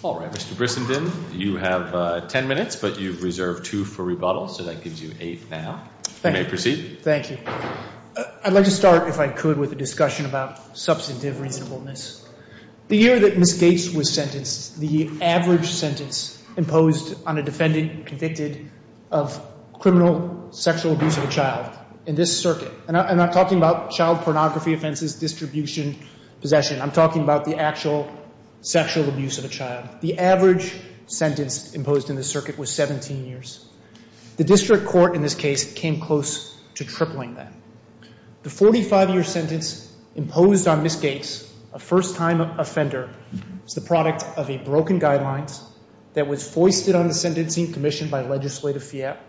All right, Mr. Brissenden, you have ten minutes, but you've reserved five minutes for questions. You've reserved two for rebuttal, so that gives you eight now. You may proceed. Thank you. I'd like to start, if I could, with a discussion about substantive reasonableness. The year that Ms. Gates was sentenced, the average sentence imposed on a defendant convicted of criminal sexual abuse of a child in this circuit – and I'm not talking about child pornography offenses, distribution, possession. I'm talking about the actual sexual abuse of a child – the average sentence imposed in this circuit was 17 years. The district court in this case came close to tripling that. The 45-year sentence imposed on Ms. Gates, a first-time offender, is the product of a broken guideline that was foisted on the Sentencing Commission by Legislative Fiat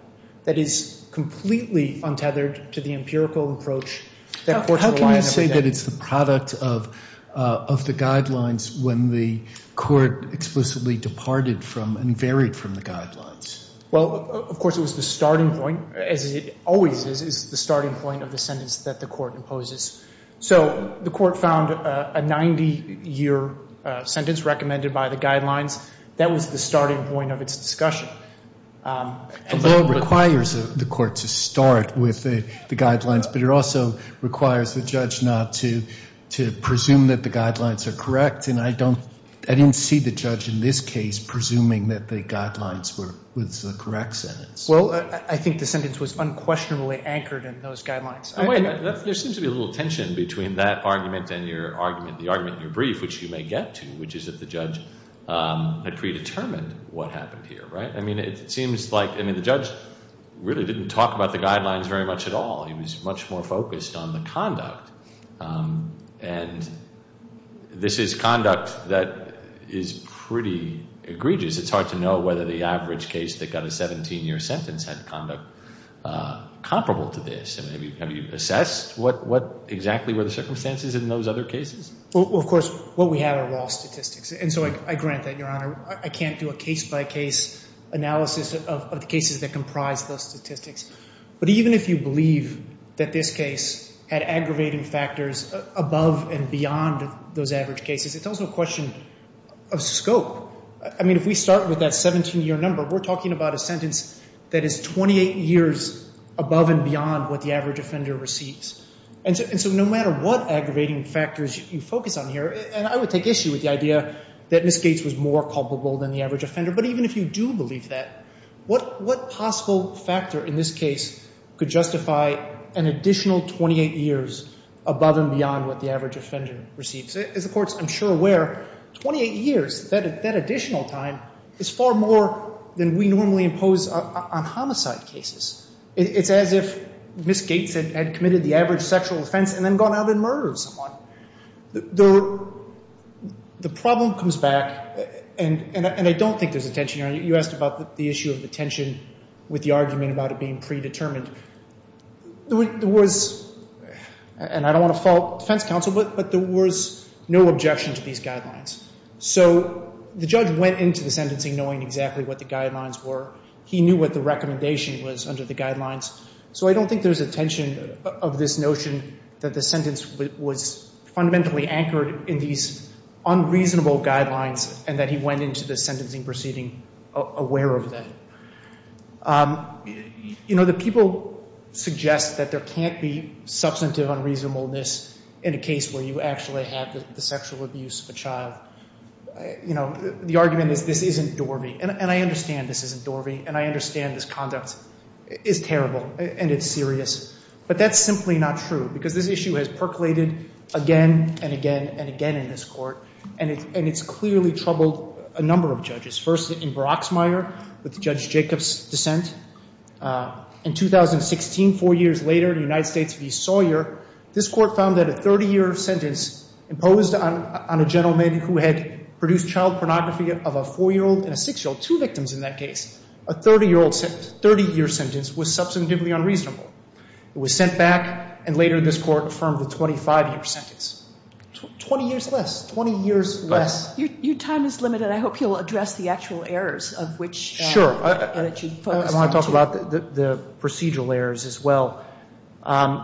that is completely untethered to the empirical approach that courts rely on every day. You say that it's the product of the guidelines when the court explicitly departed from and varied from the guidelines. Well, of course, it was the starting point, as it always is, is the starting point of the sentence that the court imposes. So the court found a 90-year sentence recommended by the guidelines. That was the starting point of its discussion. It requires the court to start with the guidelines, but it also requires the judge not to presume that the guidelines are correct, and I didn't see the judge in this case presuming that the guidelines were the correct sentence. Well, I think the sentence was unquestionably anchored in those guidelines. There seems to be a little tension between that argument and the argument in your brief, which you may get to, which is that the judge had predetermined what happened here, right? I mean, it seems like the judge really didn't talk about the guidelines very much at all. He was much more focused on the conduct, and this is conduct that is pretty egregious. It's hard to know whether the average case that got a 17-year sentence had conduct comparable to this. Have you assessed what exactly were the circumstances in those other cases? Well, of course, what we have are raw statistics, and so I grant that, Your Honor. I can't do a case-by-case analysis of the cases that comprise those statistics. But even if you believe that this case had aggravating factors above and beyond those average cases, it's also a question of scope. I mean, if we start with that 17-year number, we're talking about a sentence that is 28 years above and beyond what the average offender receives. And so no matter what aggravating factors you focus on here, and I would take issue with the idea that Ms. Gates was more culpable than the average offender. But even if you do believe that, what possible factor in this case could justify an additional 28 years above and beyond what the average offender receives? As the courts, I'm sure, are aware, 28 years, that additional time, is far more than we normally impose on homicide cases. It's as if Ms. Gates had committed the average sexual offense and then gone out and murdered someone. The problem comes back, and I don't think there's a tension here. You asked about the issue of the tension with the argument about it being predetermined. There was, and I don't want to fault defense counsel, but there was no objection to these guidelines. So the judge went into the sentencing knowing exactly what the guidelines were. He knew what the recommendation was under the guidelines. So I don't think there's a tension of this notion that the sentence was fundamentally anchored in these unreasonable guidelines, and that he went into the sentencing proceeding aware of that. You know, the people suggest that there can't be substantive unreasonableness in a case where you actually have the sexual abuse of a child. You know, the argument is this isn't Dorvey. And I understand this isn't Dorvey, and I understand this conduct is terrible and it's serious. But that's simply not true, because this issue has percolated again and again and again in this Court, and it's clearly troubled a number of judges. First, in Broxmire, with Judge Jacobs' dissent. In 2016, four years later, in United States v. Sawyer, this Court found that a 30-year sentence imposed on a gentleman who had produced child pornography of a 4-year-old and a 6-year-old, two victims in that case, a 30-year sentence was substantively unreasonable. It was sent back, and later this Court affirmed the 25-year sentence. 20 years less, 20 years less. Your time is limited. I want to talk about the procedural errors as well.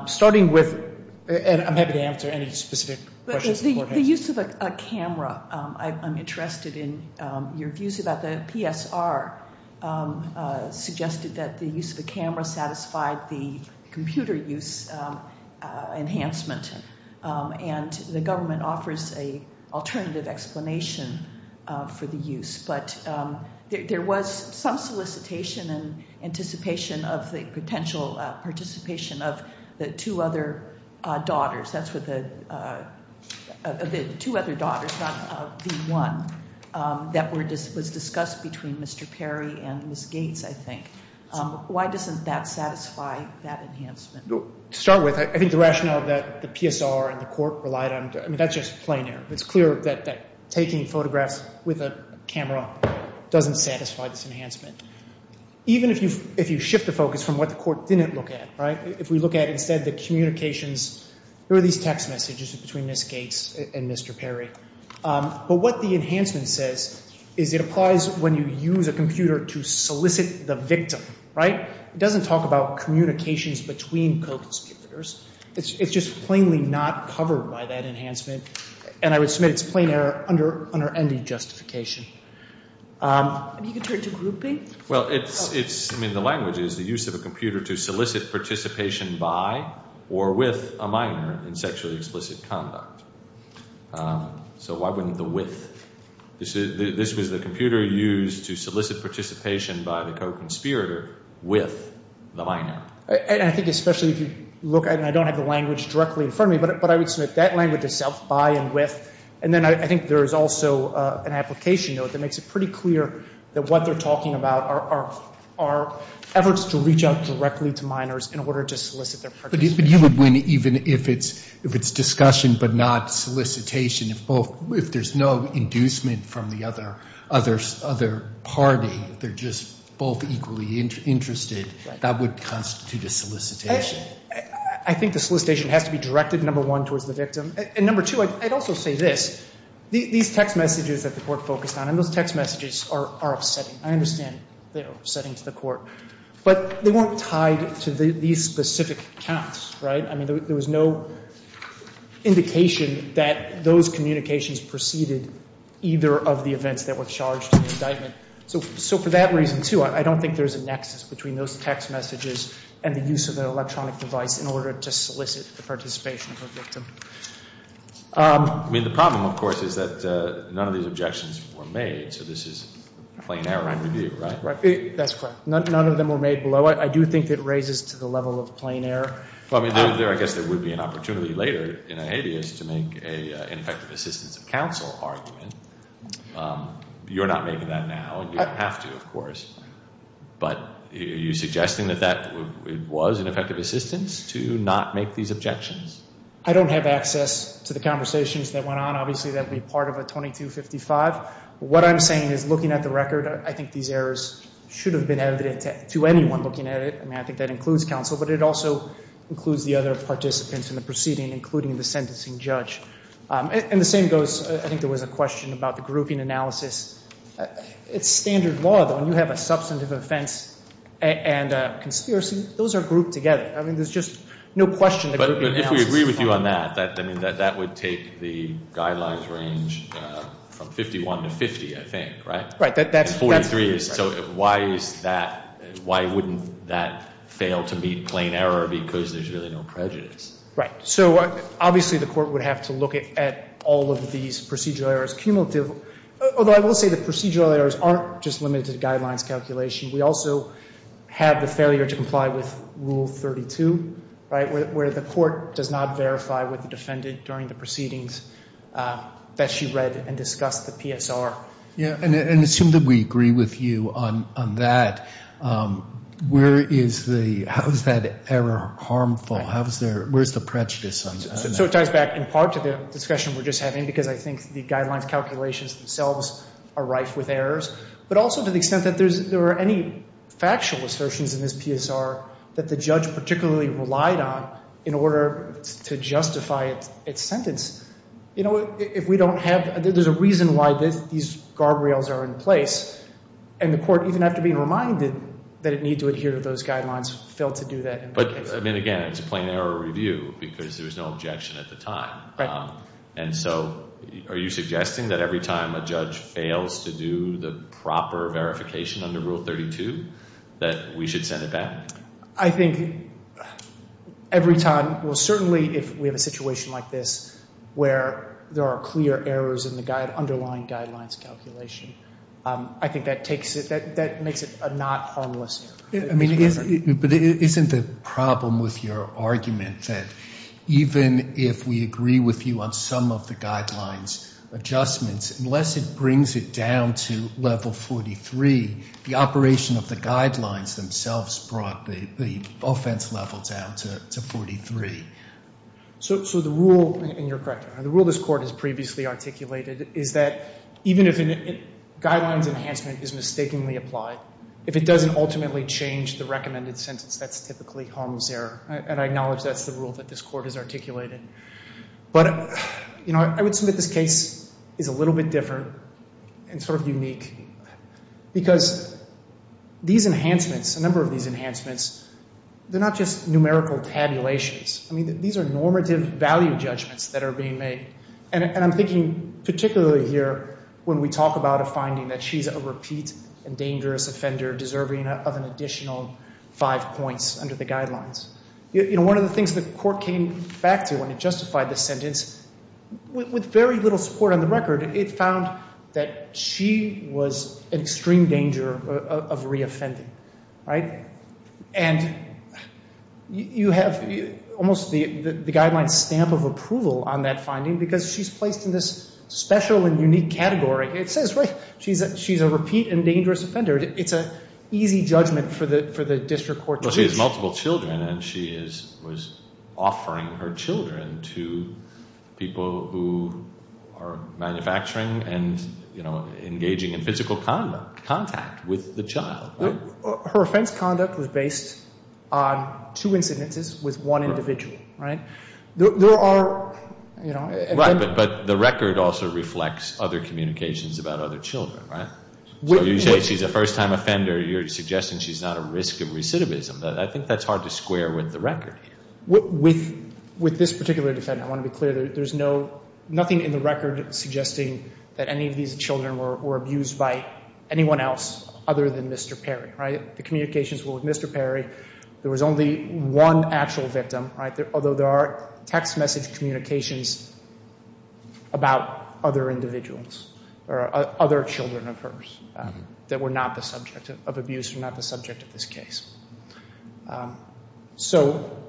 Starting with, and I'm happy to answer any specific questions beforehand. The use of a camera, I'm interested in your views about the PSR, suggested that the use of a camera satisfied the computer use enhancement, and the government offers an alternative explanation for the use. But there was some solicitation and anticipation of the potential participation of the two other daughters. That's what the two other daughters, not the one, that was discussed between Mr. Perry and Ms. Gates, I think. Why doesn't that satisfy that enhancement? To start with, I think the rationale that the PSR and the Court relied on, I mean, that's just plain error. It's clear that taking photographs with a camera doesn't satisfy this enhancement. Even if you shift the focus from what the Court didn't look at, right, if we look at instead the communications, there were these text messages between Ms. Gates and Mr. Perry. But what the enhancement says is it applies when you use a computer to solicit the victim, right? It doesn't talk about communications between co-conspirators. It's just plainly not covered by that enhancement, and I would submit it's plain error under any justification. If you could turn to grouping? Well, it's, I mean, the language is the use of a computer to solicit participation by or with a minor in sexually explicit conduct. So why wouldn't the with? This was the computer used to solicit participation by the co-conspirator with the minor. And I think especially if you look at it, and I don't have the language directly in front of me, but I would submit that language is self by and with. And then I think there is also an application note that makes it pretty clear that what they're talking about are efforts to reach out directly to minors in order to solicit their participation. But you would win even if it's discussion but not solicitation, if both, if there's no inducement from the other party, they're just both equally interested. That would constitute a solicitation. I think the solicitation has to be directed, number one, towards the victim. And number two, I'd also say this. These text messages that the Court focused on, and those text messages are upsetting. I understand they're upsetting to the Court. But they weren't tied to these specific accounts, right? I mean, there was no indication that those communications preceded either of the events that were charged in the indictment. So for that reason, too, I don't think there's a nexus between those text messages and the use of an electronic device in order to solicit the participation of a victim. I mean, the problem, of course, is that none of these objections were made. So this is plain error in review, right? That's correct. None of them were made below it. I do think it raises to the level of plain error. I mean, I guess there would be an opportunity later in a habeas to make an ineffective assistance of counsel argument. You're not making that now. You have to, of course. But are you suggesting that that was an effective assistance to not make these objections? I don't have access to the conversations that went on. Obviously, that would be part of a 2255. What I'm saying is, looking at the record, I think these errors should have been added to anyone looking at it. I mean, I think that includes counsel, but it also includes the other participants in the proceeding, including the sentencing judge. And the same goes, I think there was a question about the grouping analysis. It's standard law, though. When you have a substantive offense and a conspiracy, those are grouped together. I mean, there's just no question the grouping analysis is fine. But if we agree with you on that, I mean, that would take the guidelines range from 51 to 50, I think, right? Right. That's 43. So why is that? Why wouldn't that fail to meet plain error because there's really no prejudice? Right. So obviously, the court would have to look at all of these procedural errors cumulatively, although I will say the procedural errors aren't just limited to the guidelines calculation. We also have the failure to comply with Rule 32, right, where the court does not verify with the defendant during the proceedings that she read and discussed the PSR. Yeah, and assume that we agree with you on that. Where is the – how is that error harmful? How is there – where is the prejudice on that? So it ties back in part to the discussion we're just having because I think the guidelines calculations themselves are rife with errors, but also to the extent that there are any factual assertions in this PSR that the judge particularly relied on in order to justify its sentence. You know, if we don't have – there's a reason why these guardrails are in place, and the court, even after being reminded that it needs to adhere to those guidelines, failed to do that. But, I mean, again, it's a plain error review because there was no objection at the time. Right. And so are you suggesting that every time a judge fails to do the proper verification under Rule 32 that we should send it back? I think every time – well, certainly if we have a situation like this where there are clear errors in the underlying guidelines calculation, I think that takes it – that makes it a not harmless error. I mean, but isn't the problem with your argument that even if we agree with you on some of the guidelines adjustments, unless it brings it down to Level 43, the operation of the guidelines themselves brought the offense level down to 43? So the rule – and you're correct. The rule this Court has previously articulated is that even if a guidelines enhancement is mistakenly applied, if it doesn't ultimately change the recommended sentence, that's typically harmless error. And I acknowledge that's the rule that this Court has articulated. But, you know, I would submit this case is a little bit different and sort of unique because these enhancements, a number of these enhancements, they're not just numerical tabulations. I mean, these are normative value judgments that are being made. And I'm thinking particularly here when we talk about a finding that she's a repeat and dangerous offender deserving of an additional five points under the guidelines. You know, one of the things the Court came back to when it justified the sentence, with very little support on the record, it found that she was in extreme danger of reoffending, right? And you have almost the guidelines stamp of approval on that finding because she's placed in this special and unique category. It says, right, she's a repeat and dangerous offender. It's an easy judgment for the district court to use. Well, she has multiple children and she was offering her children to people who are manufacturing and, you know, engaging in physical contact with the child. Her offense conduct was based on two incidences with one individual, right? There are, you know. Right. But the record also reflects other communications about other children, right? So you say she's a first-time offender. You're suggesting she's not at risk of recidivism. I think that's hard to square with the record here. With this particular defendant, I want to be clear. There's nothing in the record suggesting that any of these children were abused by anyone else other than Mr. Perry, right? The communications were with Mr. Perry. There was only one actual victim, right? Although there are text message communications about other individuals or other children of hers that were not the subject of abuse or not the subject of this case. So,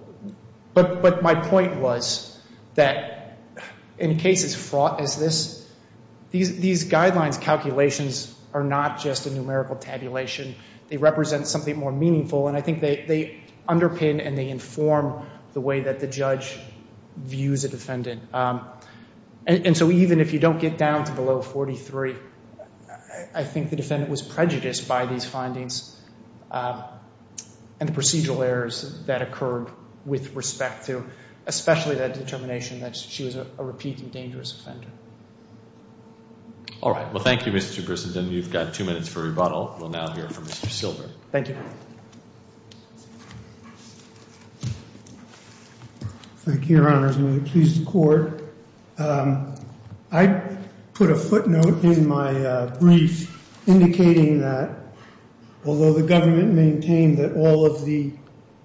but my point was that in cases fraught as this, these guidelines calculations are not just a numerical tabulation. They represent something more meaningful, and I think they underpin and they inform the way that the judge views a defendant. And so even if you don't get down to below 43, I think the defendant was prejudiced by these findings and the procedural errors that occurred with respect to, especially that determination that she was a repeat and dangerous offender. All right. Well, thank you, Mr. Christensen. You've got two minutes for rebuttal. We'll now hear from Mr. Silver. Thank you. Thank you, Your Honors. May it please the court. I put a footnote in my brief indicating that although the government maintained that all of the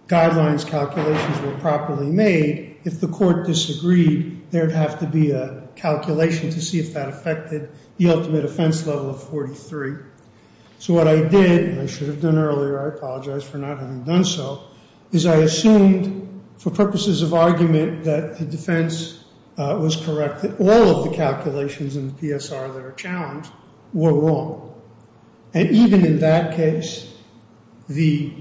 guidelines calculations were properly made, if the court disagreed, there'd have to be a calculation to see if that affected the ultimate offense level of 43. So what I did, and I should have done earlier, I apologize for not having done so, is I assumed for purposes of argument that the defense was correct that all of the calculations in the PSR that are challenged were wrong. And even in that case, the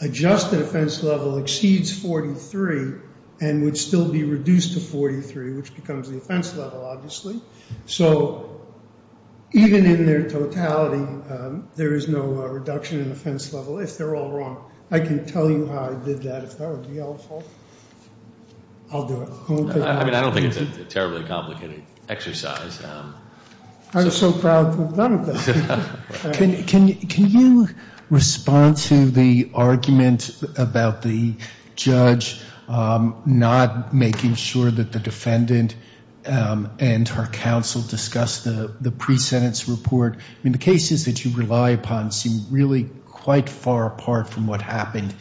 adjusted offense level exceeds 43 and would still be reduced to 43, which becomes the offense level, obviously. So even in their totality, there is no reduction in offense level if they're all wrong. I can tell you how I did that if that would be helpful. I'll do it. I mean, I don't think it's a terribly complicated exercise. I'm so proud to have done it. Can you respond to the argument about the judge not making sure that the defendant and her counsel discuss the pre-sentence report? I mean, the cases that you rely upon seem really quite far apart from what happened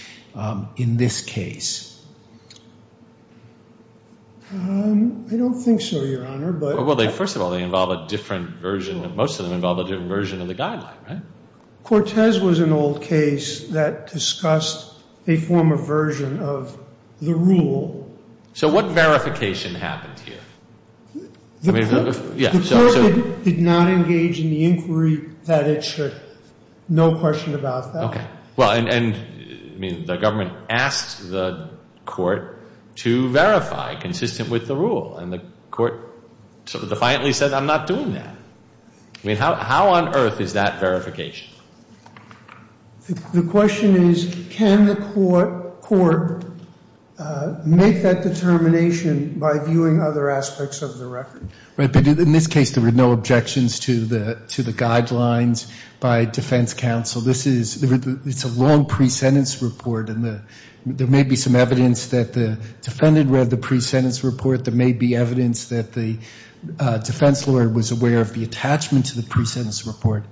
in this case. I don't think so, Your Honor. Well, first of all, they involve a different version. Most of them involve a different version of the guideline, right? Cortez was an old case that discussed a former version of the rule. So what verification happened here? The court did not engage in the inquiry that it should. No question about that. Okay. Well, and, I mean, the government asked the court to verify consistent with the rule, and the court sort of defiantly said, I'm not doing that. I mean, how on earth is that verification? The question is, can the court make that determination by viewing other aspects of the record? Right, but in this case there were no objections to the guidelines by defense counsel. This is a long pre-sentence report, and there may be some evidence that the defendant read the pre-sentence report. There may be evidence that the defense lawyer was aware of the attachment to the pre-sentence report.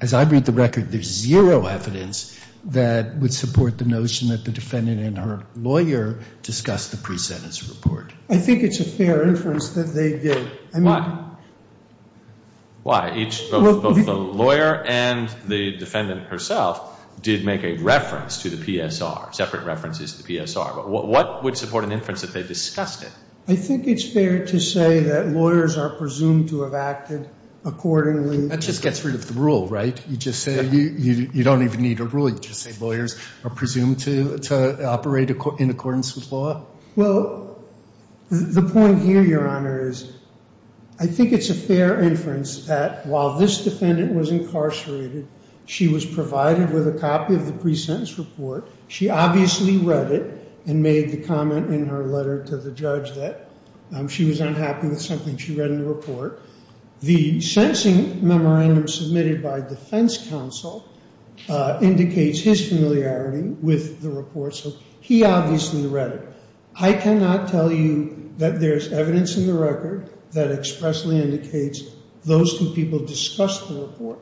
As I read the record, there's zero evidence that would support the notion that the defendant and her lawyer discussed the pre-sentence report. I think it's a fair inference that they did. Why? Why? Both the lawyer and the defendant herself did make a reference to the PSR, separate references to the PSR. But what would support an inference that they discussed it? I think it's fair to say that lawyers are presumed to have acted accordingly. That just gets rid of the rule, right? You just say you don't even need a rule. You just say lawyers are presumed to operate in accordance with law. Well, the point here, Your Honor, is I think it's a fair inference that while this defendant was incarcerated, she was provided with a copy of the pre-sentence report. She obviously read it and made the comment in her letter to the judge that she was unhappy with something she read in the report. The sentencing memorandum submitted by defense counsel indicates his familiarity with the report. So he obviously read it. I cannot tell you that there's evidence in the record that expressly indicates those two people discussed the report.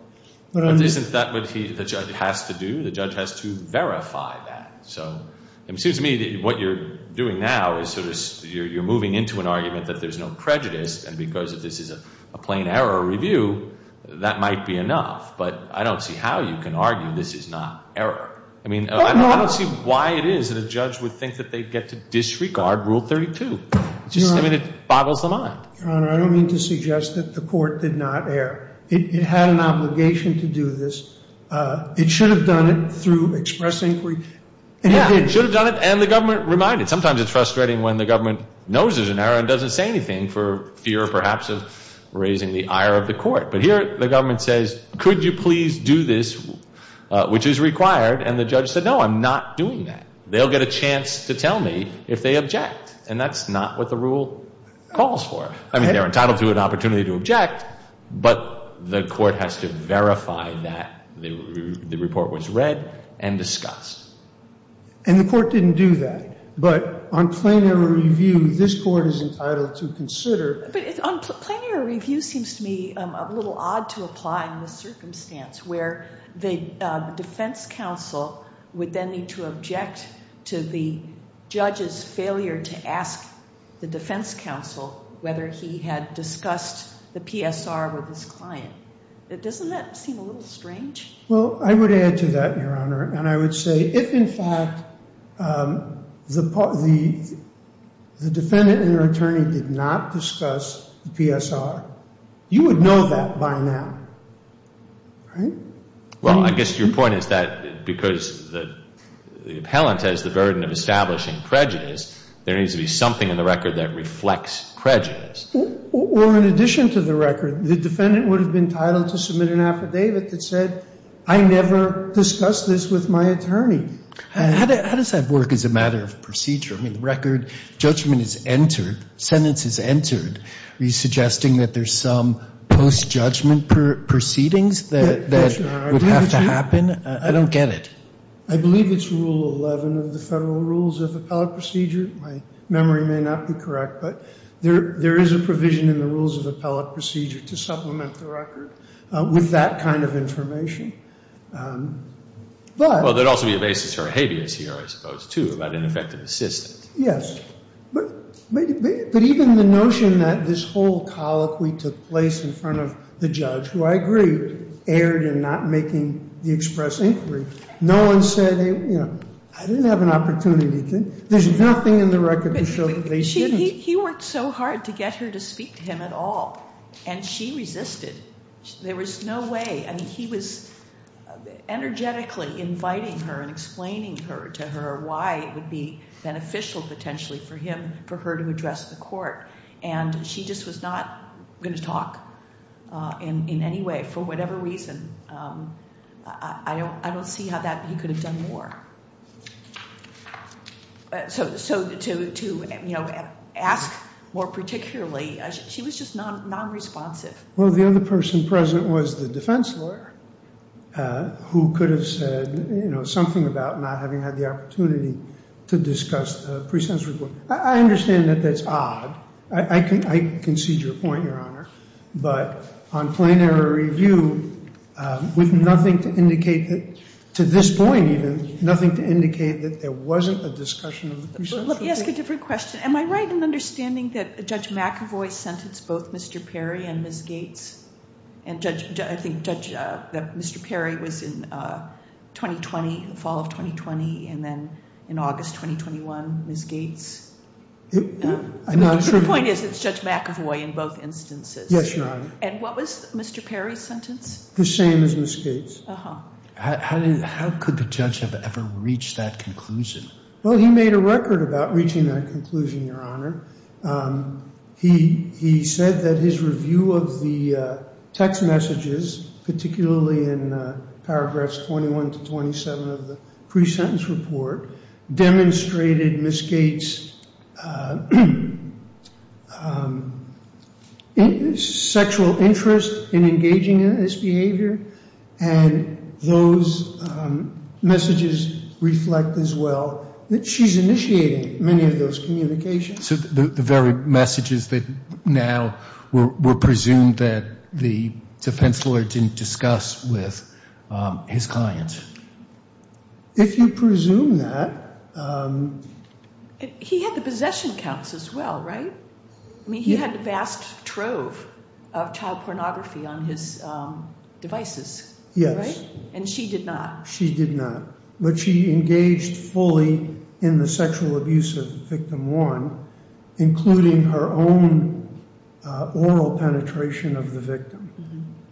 But isn't that what the judge has to do? The judge has to verify that. So it seems to me that what you're doing now is sort of you're moving into an argument that there's no prejudice, and because this is a plain error review, that might be enough. But I don't see how you can argue this is not error. I mean, I don't see why it is that a judge would think that they'd get to disregard Rule 32. I mean, it boggles the mind. Your Honor, I don't mean to suggest that the court did not err. It had an obligation to do this. It should have done it through express inquiry. Yeah, it should have done it, and the government reminded. Sometimes it's frustrating when the government knows there's an error and doesn't say anything for fear, perhaps, of raising the ire of the court. But here the government says, could you please do this, which is required, and the judge said, no, I'm not doing that. They'll get a chance to tell me if they object, and that's not what the rule calls for. I mean, they're entitled to an opportunity to object, but the court has to verify that the report was read and discussed. And the court didn't do that, but on plain error review, this court is entitled to consider. But on plain error review, it seems to me a little odd to apply in this circumstance, where the defense counsel would then need to object to the judge's failure to ask the defense counsel whether he had discussed the PSR with his client. Doesn't that seem a little strange? Well, I would add to that, Your Honor. And I would say if, in fact, the defendant and their attorney did not discuss the PSR, you would know that by now, right? Well, I guess your point is that because the appellant has the burden of establishing prejudice, there needs to be something in the record that reflects prejudice. Or in addition to the record, the defendant would have been entitled to submit an affidavit that said, I never discussed this with my attorney. How does that work as a matter of procedure? I mean, the record, judgment is entered, sentence is entered. Are you suggesting that there's some post-judgment proceedings that would have to happen? I don't get it. I believe it's Rule 11 of the Federal Rules of Appellate Procedure. My memory may not be correct, but there is a provision in the Rules of Appellate Procedure to supplement the record with that kind of information. Well, there would also be a basis for a habeas here, I suppose, too, about ineffective assistance. Yes. But even the notion that this whole colloquy took place in front of the judge, who I agree erred in not making the express inquiry. No one said, you know, I didn't have an opportunity. There's nothing in the record to show that they didn't. He worked so hard to get her to speak to him at all, and she resisted. There was no way. I mean, he was energetically inviting her and explaining to her why it would be beneficial potentially for him, for her to address the court, and she just was not going to talk in any way for whatever reason. I don't see how that he could have done more. So to, you know, ask more particularly, she was just non-responsive. Well, the other person present was the defense lawyer who could have said, you know, something about not having had the opportunity to discuss the pre-sense report. I understand that that's odd. I concede your point, Your Honor. But on plain error review, with nothing to indicate that, to this point even, nothing to indicate that there wasn't a discussion of the pre-sense report. Let me ask a different question. Am I right in understanding that Judge McAvoy sentenced both Mr. Perry and Ms. Gates? And I think that Mr. Perry was in 2020, fall of 2020, and then in August 2021, Ms. Gates? I'm not sure. My point is it's Judge McAvoy in both instances. Yes, Your Honor. And what was Mr. Perry's sentence? The same as Ms. Gates. How could the judge have ever reached that conclusion? Well, he made a record about reaching that conclusion, Your Honor. He said that his review of the text messages, particularly in paragraphs 21 to 27 of the pre-sense report, demonstrated Ms. Gates' sexual interest in engaging in this behavior. And those messages reflect as well that she's initiating many of those communications. So the very messages that now were presumed that the defense lawyer didn't discuss with his clients? If you presume that. He had the possession counts as well, right? I mean, he had a vast trove of child pornography on his devices. Yes. And she did not. She did not. But she engaged fully in the sexual abuse of Victim 1, including her own oral penetration of the victim.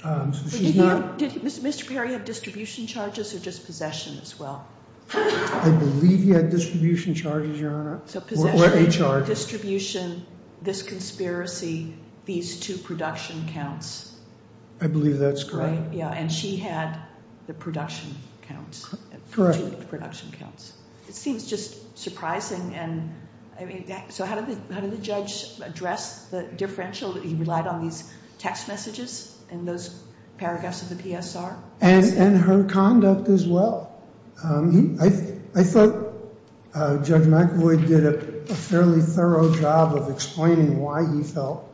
Did Mr. Perry have distribution charges or just possession as well? I believe he had distribution charges, Your Honor. So possession, distribution, this conspiracy, these two production counts. I believe that's correct. And she had the production counts. Correct. Production counts. It seems just surprising. So how did the judge address the differential that he relied on these text messages in those paragraphs of the PSR? And her conduct as well. I thought Judge McAvoy did a fairly thorough job of explaining why he felt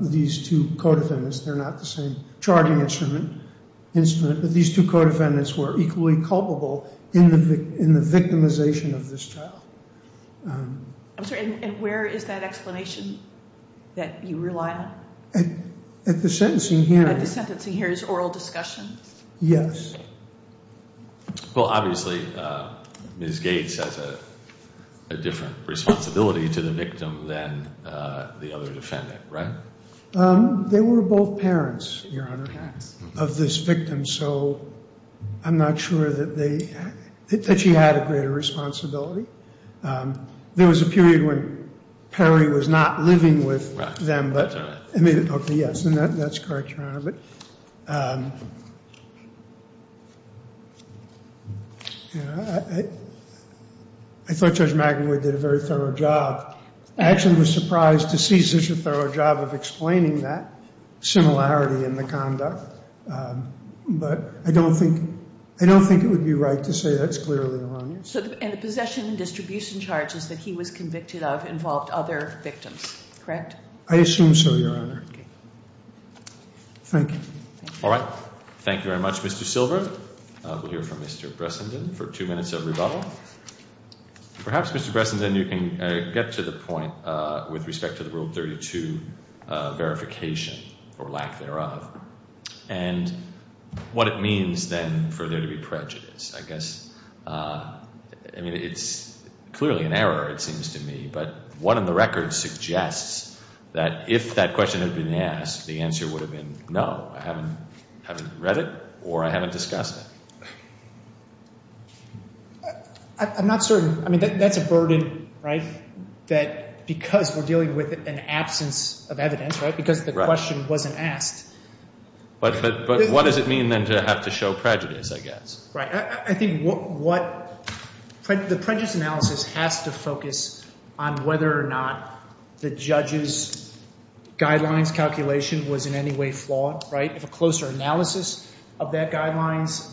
these two co-defendants, they're not the same charging instrument, but these two co-defendants were equally culpable in the victimization of this child. I'm sorry, and where is that explanation that you rely on? At the sentencing hearing. At the sentencing hearing's oral discussion? Yes. Well, obviously, Ms. Gates has a different responsibility to the victim than the other defendant, right? They were both parents, Your Honor, of this victim, so I'm not sure that she had a greater responsibility. There was a period when Perry was not living with them, but I mean, okay, yes, that's correct, Your Honor. But I thought Judge McAvoy did a very thorough job. I actually was surprised to see such a thorough job of explaining that similarity in the conduct, but I don't think it would be right to say that's clearly the wrong answer. And the possession and distribution charges that he was convicted of involved other victims, correct? I assume so, Your Honor. Thank you. All right. Thank you very much, Mr. Silber. We'll hear from Mr. Bressenden for two minutes of rebuttal. Perhaps, Mr. Bressenden, you can get to the point with respect to the Rule 32 verification, or lack thereof, and what it means then for there to be prejudice, I guess. I mean, it's clearly an error, it seems to me, but what on the record suggests that if that question had been asked, the answer would have been no, I haven't read it or I haven't discussed it. I'm not certain. I mean, that's a burden, right, that because we're dealing with an absence of evidence, right, because the question wasn't asked. But what does it mean then to have to show prejudice, I guess? Right. I think what the prejudice analysis has to focus on whether or not the judge's guidelines calculation was in any way flawed, right? If a closer analysis of that guidelines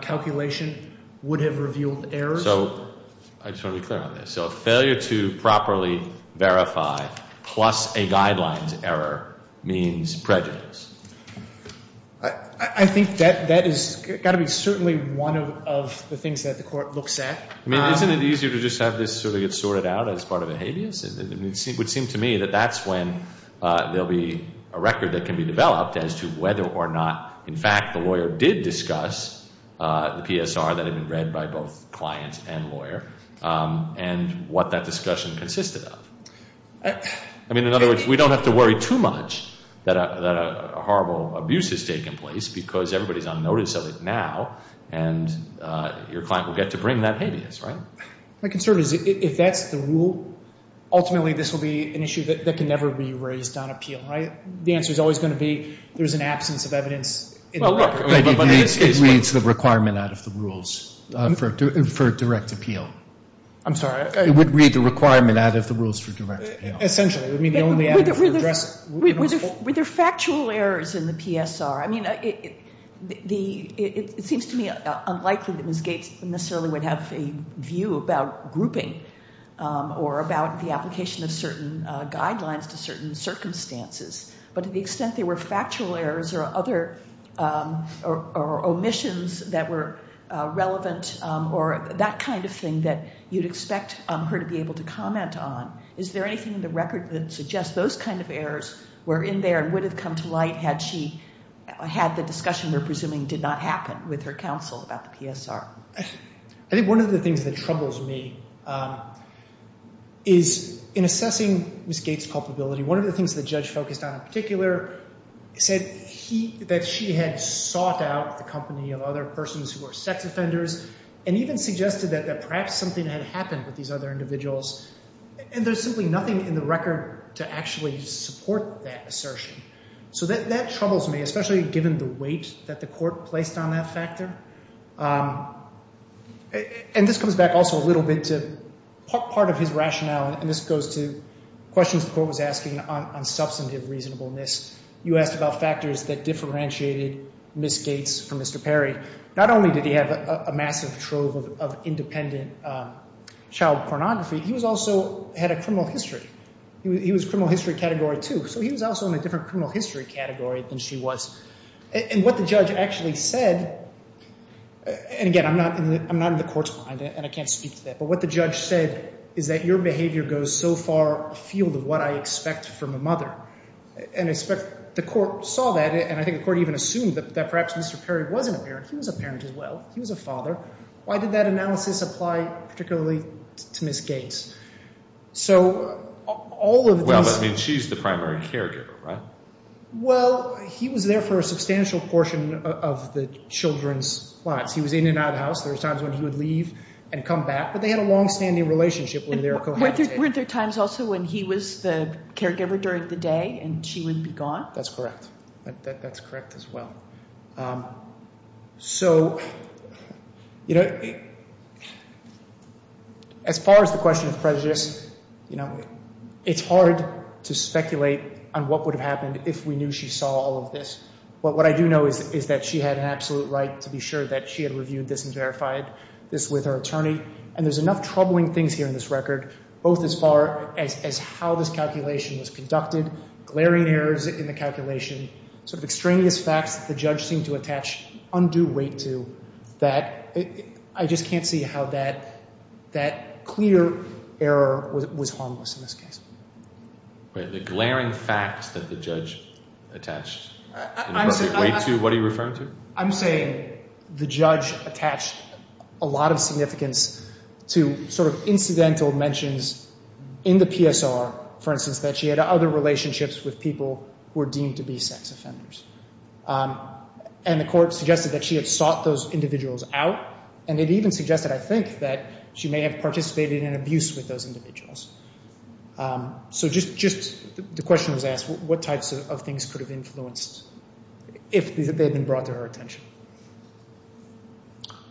calculation would have revealed errors. So I just want to be clear on this. So failure to properly verify plus a guidelines error means prejudice. I think that has got to be certainly one of the things that the Court looks at. I mean, isn't it easier to just have this sort of get sorted out as part of a habeas? It would seem to me that that's when there will be a record that can be developed as to whether or not, in fact, the lawyer did discuss the PSR that had been read by both client and lawyer and what that discussion consisted of. I mean, in other words, we don't have to worry too much that a horrible abuse has taken place because everybody's on notice of it now and your client will get to bring that habeas, right? My concern is if that's the rule, ultimately this will be an issue that can never be raised on appeal, right? The answer is always going to be there's an absence of evidence in the record. It reads the requirement out of the rules for direct appeal. I'm sorry. It would read the requirement out of the rules for direct appeal. Essentially, it would mean the only avenue for addressing it. Were there factual errors in the PSR? I mean, it seems to me unlikely that Ms. Gates necessarily would have a view about grouping or about the application of certain guidelines to certain circumstances, but to the extent there were factual errors or other omissions that were relevant or that kind of thing that you'd expect her to be able to comment on, is there anything in the record that suggests those kind of errors were in there and would have come to light had she had the discussion we're presuming did not happen with her counsel about the PSR? I think one of the things that troubles me is in assessing Ms. Gates' culpability, one of the things the judge focused on in particular said that she had sought out the company of other persons who were sex offenders and even suggested that perhaps something had happened with these other individuals, and there's simply nothing in the record to actually support that assertion. So that troubles me, especially given the weight that the court placed on that factor. And this comes back also a little bit to part of his rationale, and this goes to questions the court was asking on substantive reasonableness. You asked about factors that differentiated Ms. Gates from Mr. Perry. Not only did he have a massive trove of independent child pornography, he also had a criminal history. He was criminal history category two, so he was also in a different criminal history category than she was. And what the judge actually said, and again, I'm not in the court's mind and I can't speak to that, but what the judge said is that your behavior goes so far afield of what I expect from a mother. And I suspect the court saw that, and I think the court even assumed that perhaps Mr. Perry wasn't a parent. He was a parent as well. He was a father. Why did that analysis apply particularly to Ms. Gates? So all of these – Well, I mean, she's the primary caregiver, right? Well, he was there for a substantial portion of the children's plots. He was in and out of the house. There were times when he would leave and come back, but they had a longstanding relationship where they were cohabitating. Weren't there times also when he was the caregiver during the day and she would be gone? That's correct. That's correct as well. So, you know, as far as the question of prejudice, you know, it's hard to speculate on what would have happened if we knew she saw all of this. But what I do know is that she had an absolute right to be sure that she had reviewed this and verified this with her attorney. And there's enough troubling things here in this record, both as far as how this calculation was conducted, glaring errors in the calculation, sort of extraneous facts that the judge seemed to attach undue weight to, that I just can't see how that clear error was harmless in this case. The glaring facts that the judge attached weight to, what are you referring to? I'm saying the judge attached a lot of significance to sort of incidental mentions in the PSR, for instance, that she had other relationships with people who were deemed to be sex offenders. And the court suggested that she had sought those individuals out, and it even suggested, I think, that she may have participated in abuse with those individuals. So just the question was asked, what types of things could have influenced if they had been brought to her attention?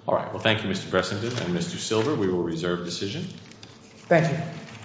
All right. Well, thank you, Mr. Pressington and Mr. Silver. We will reserve decision. Thank you.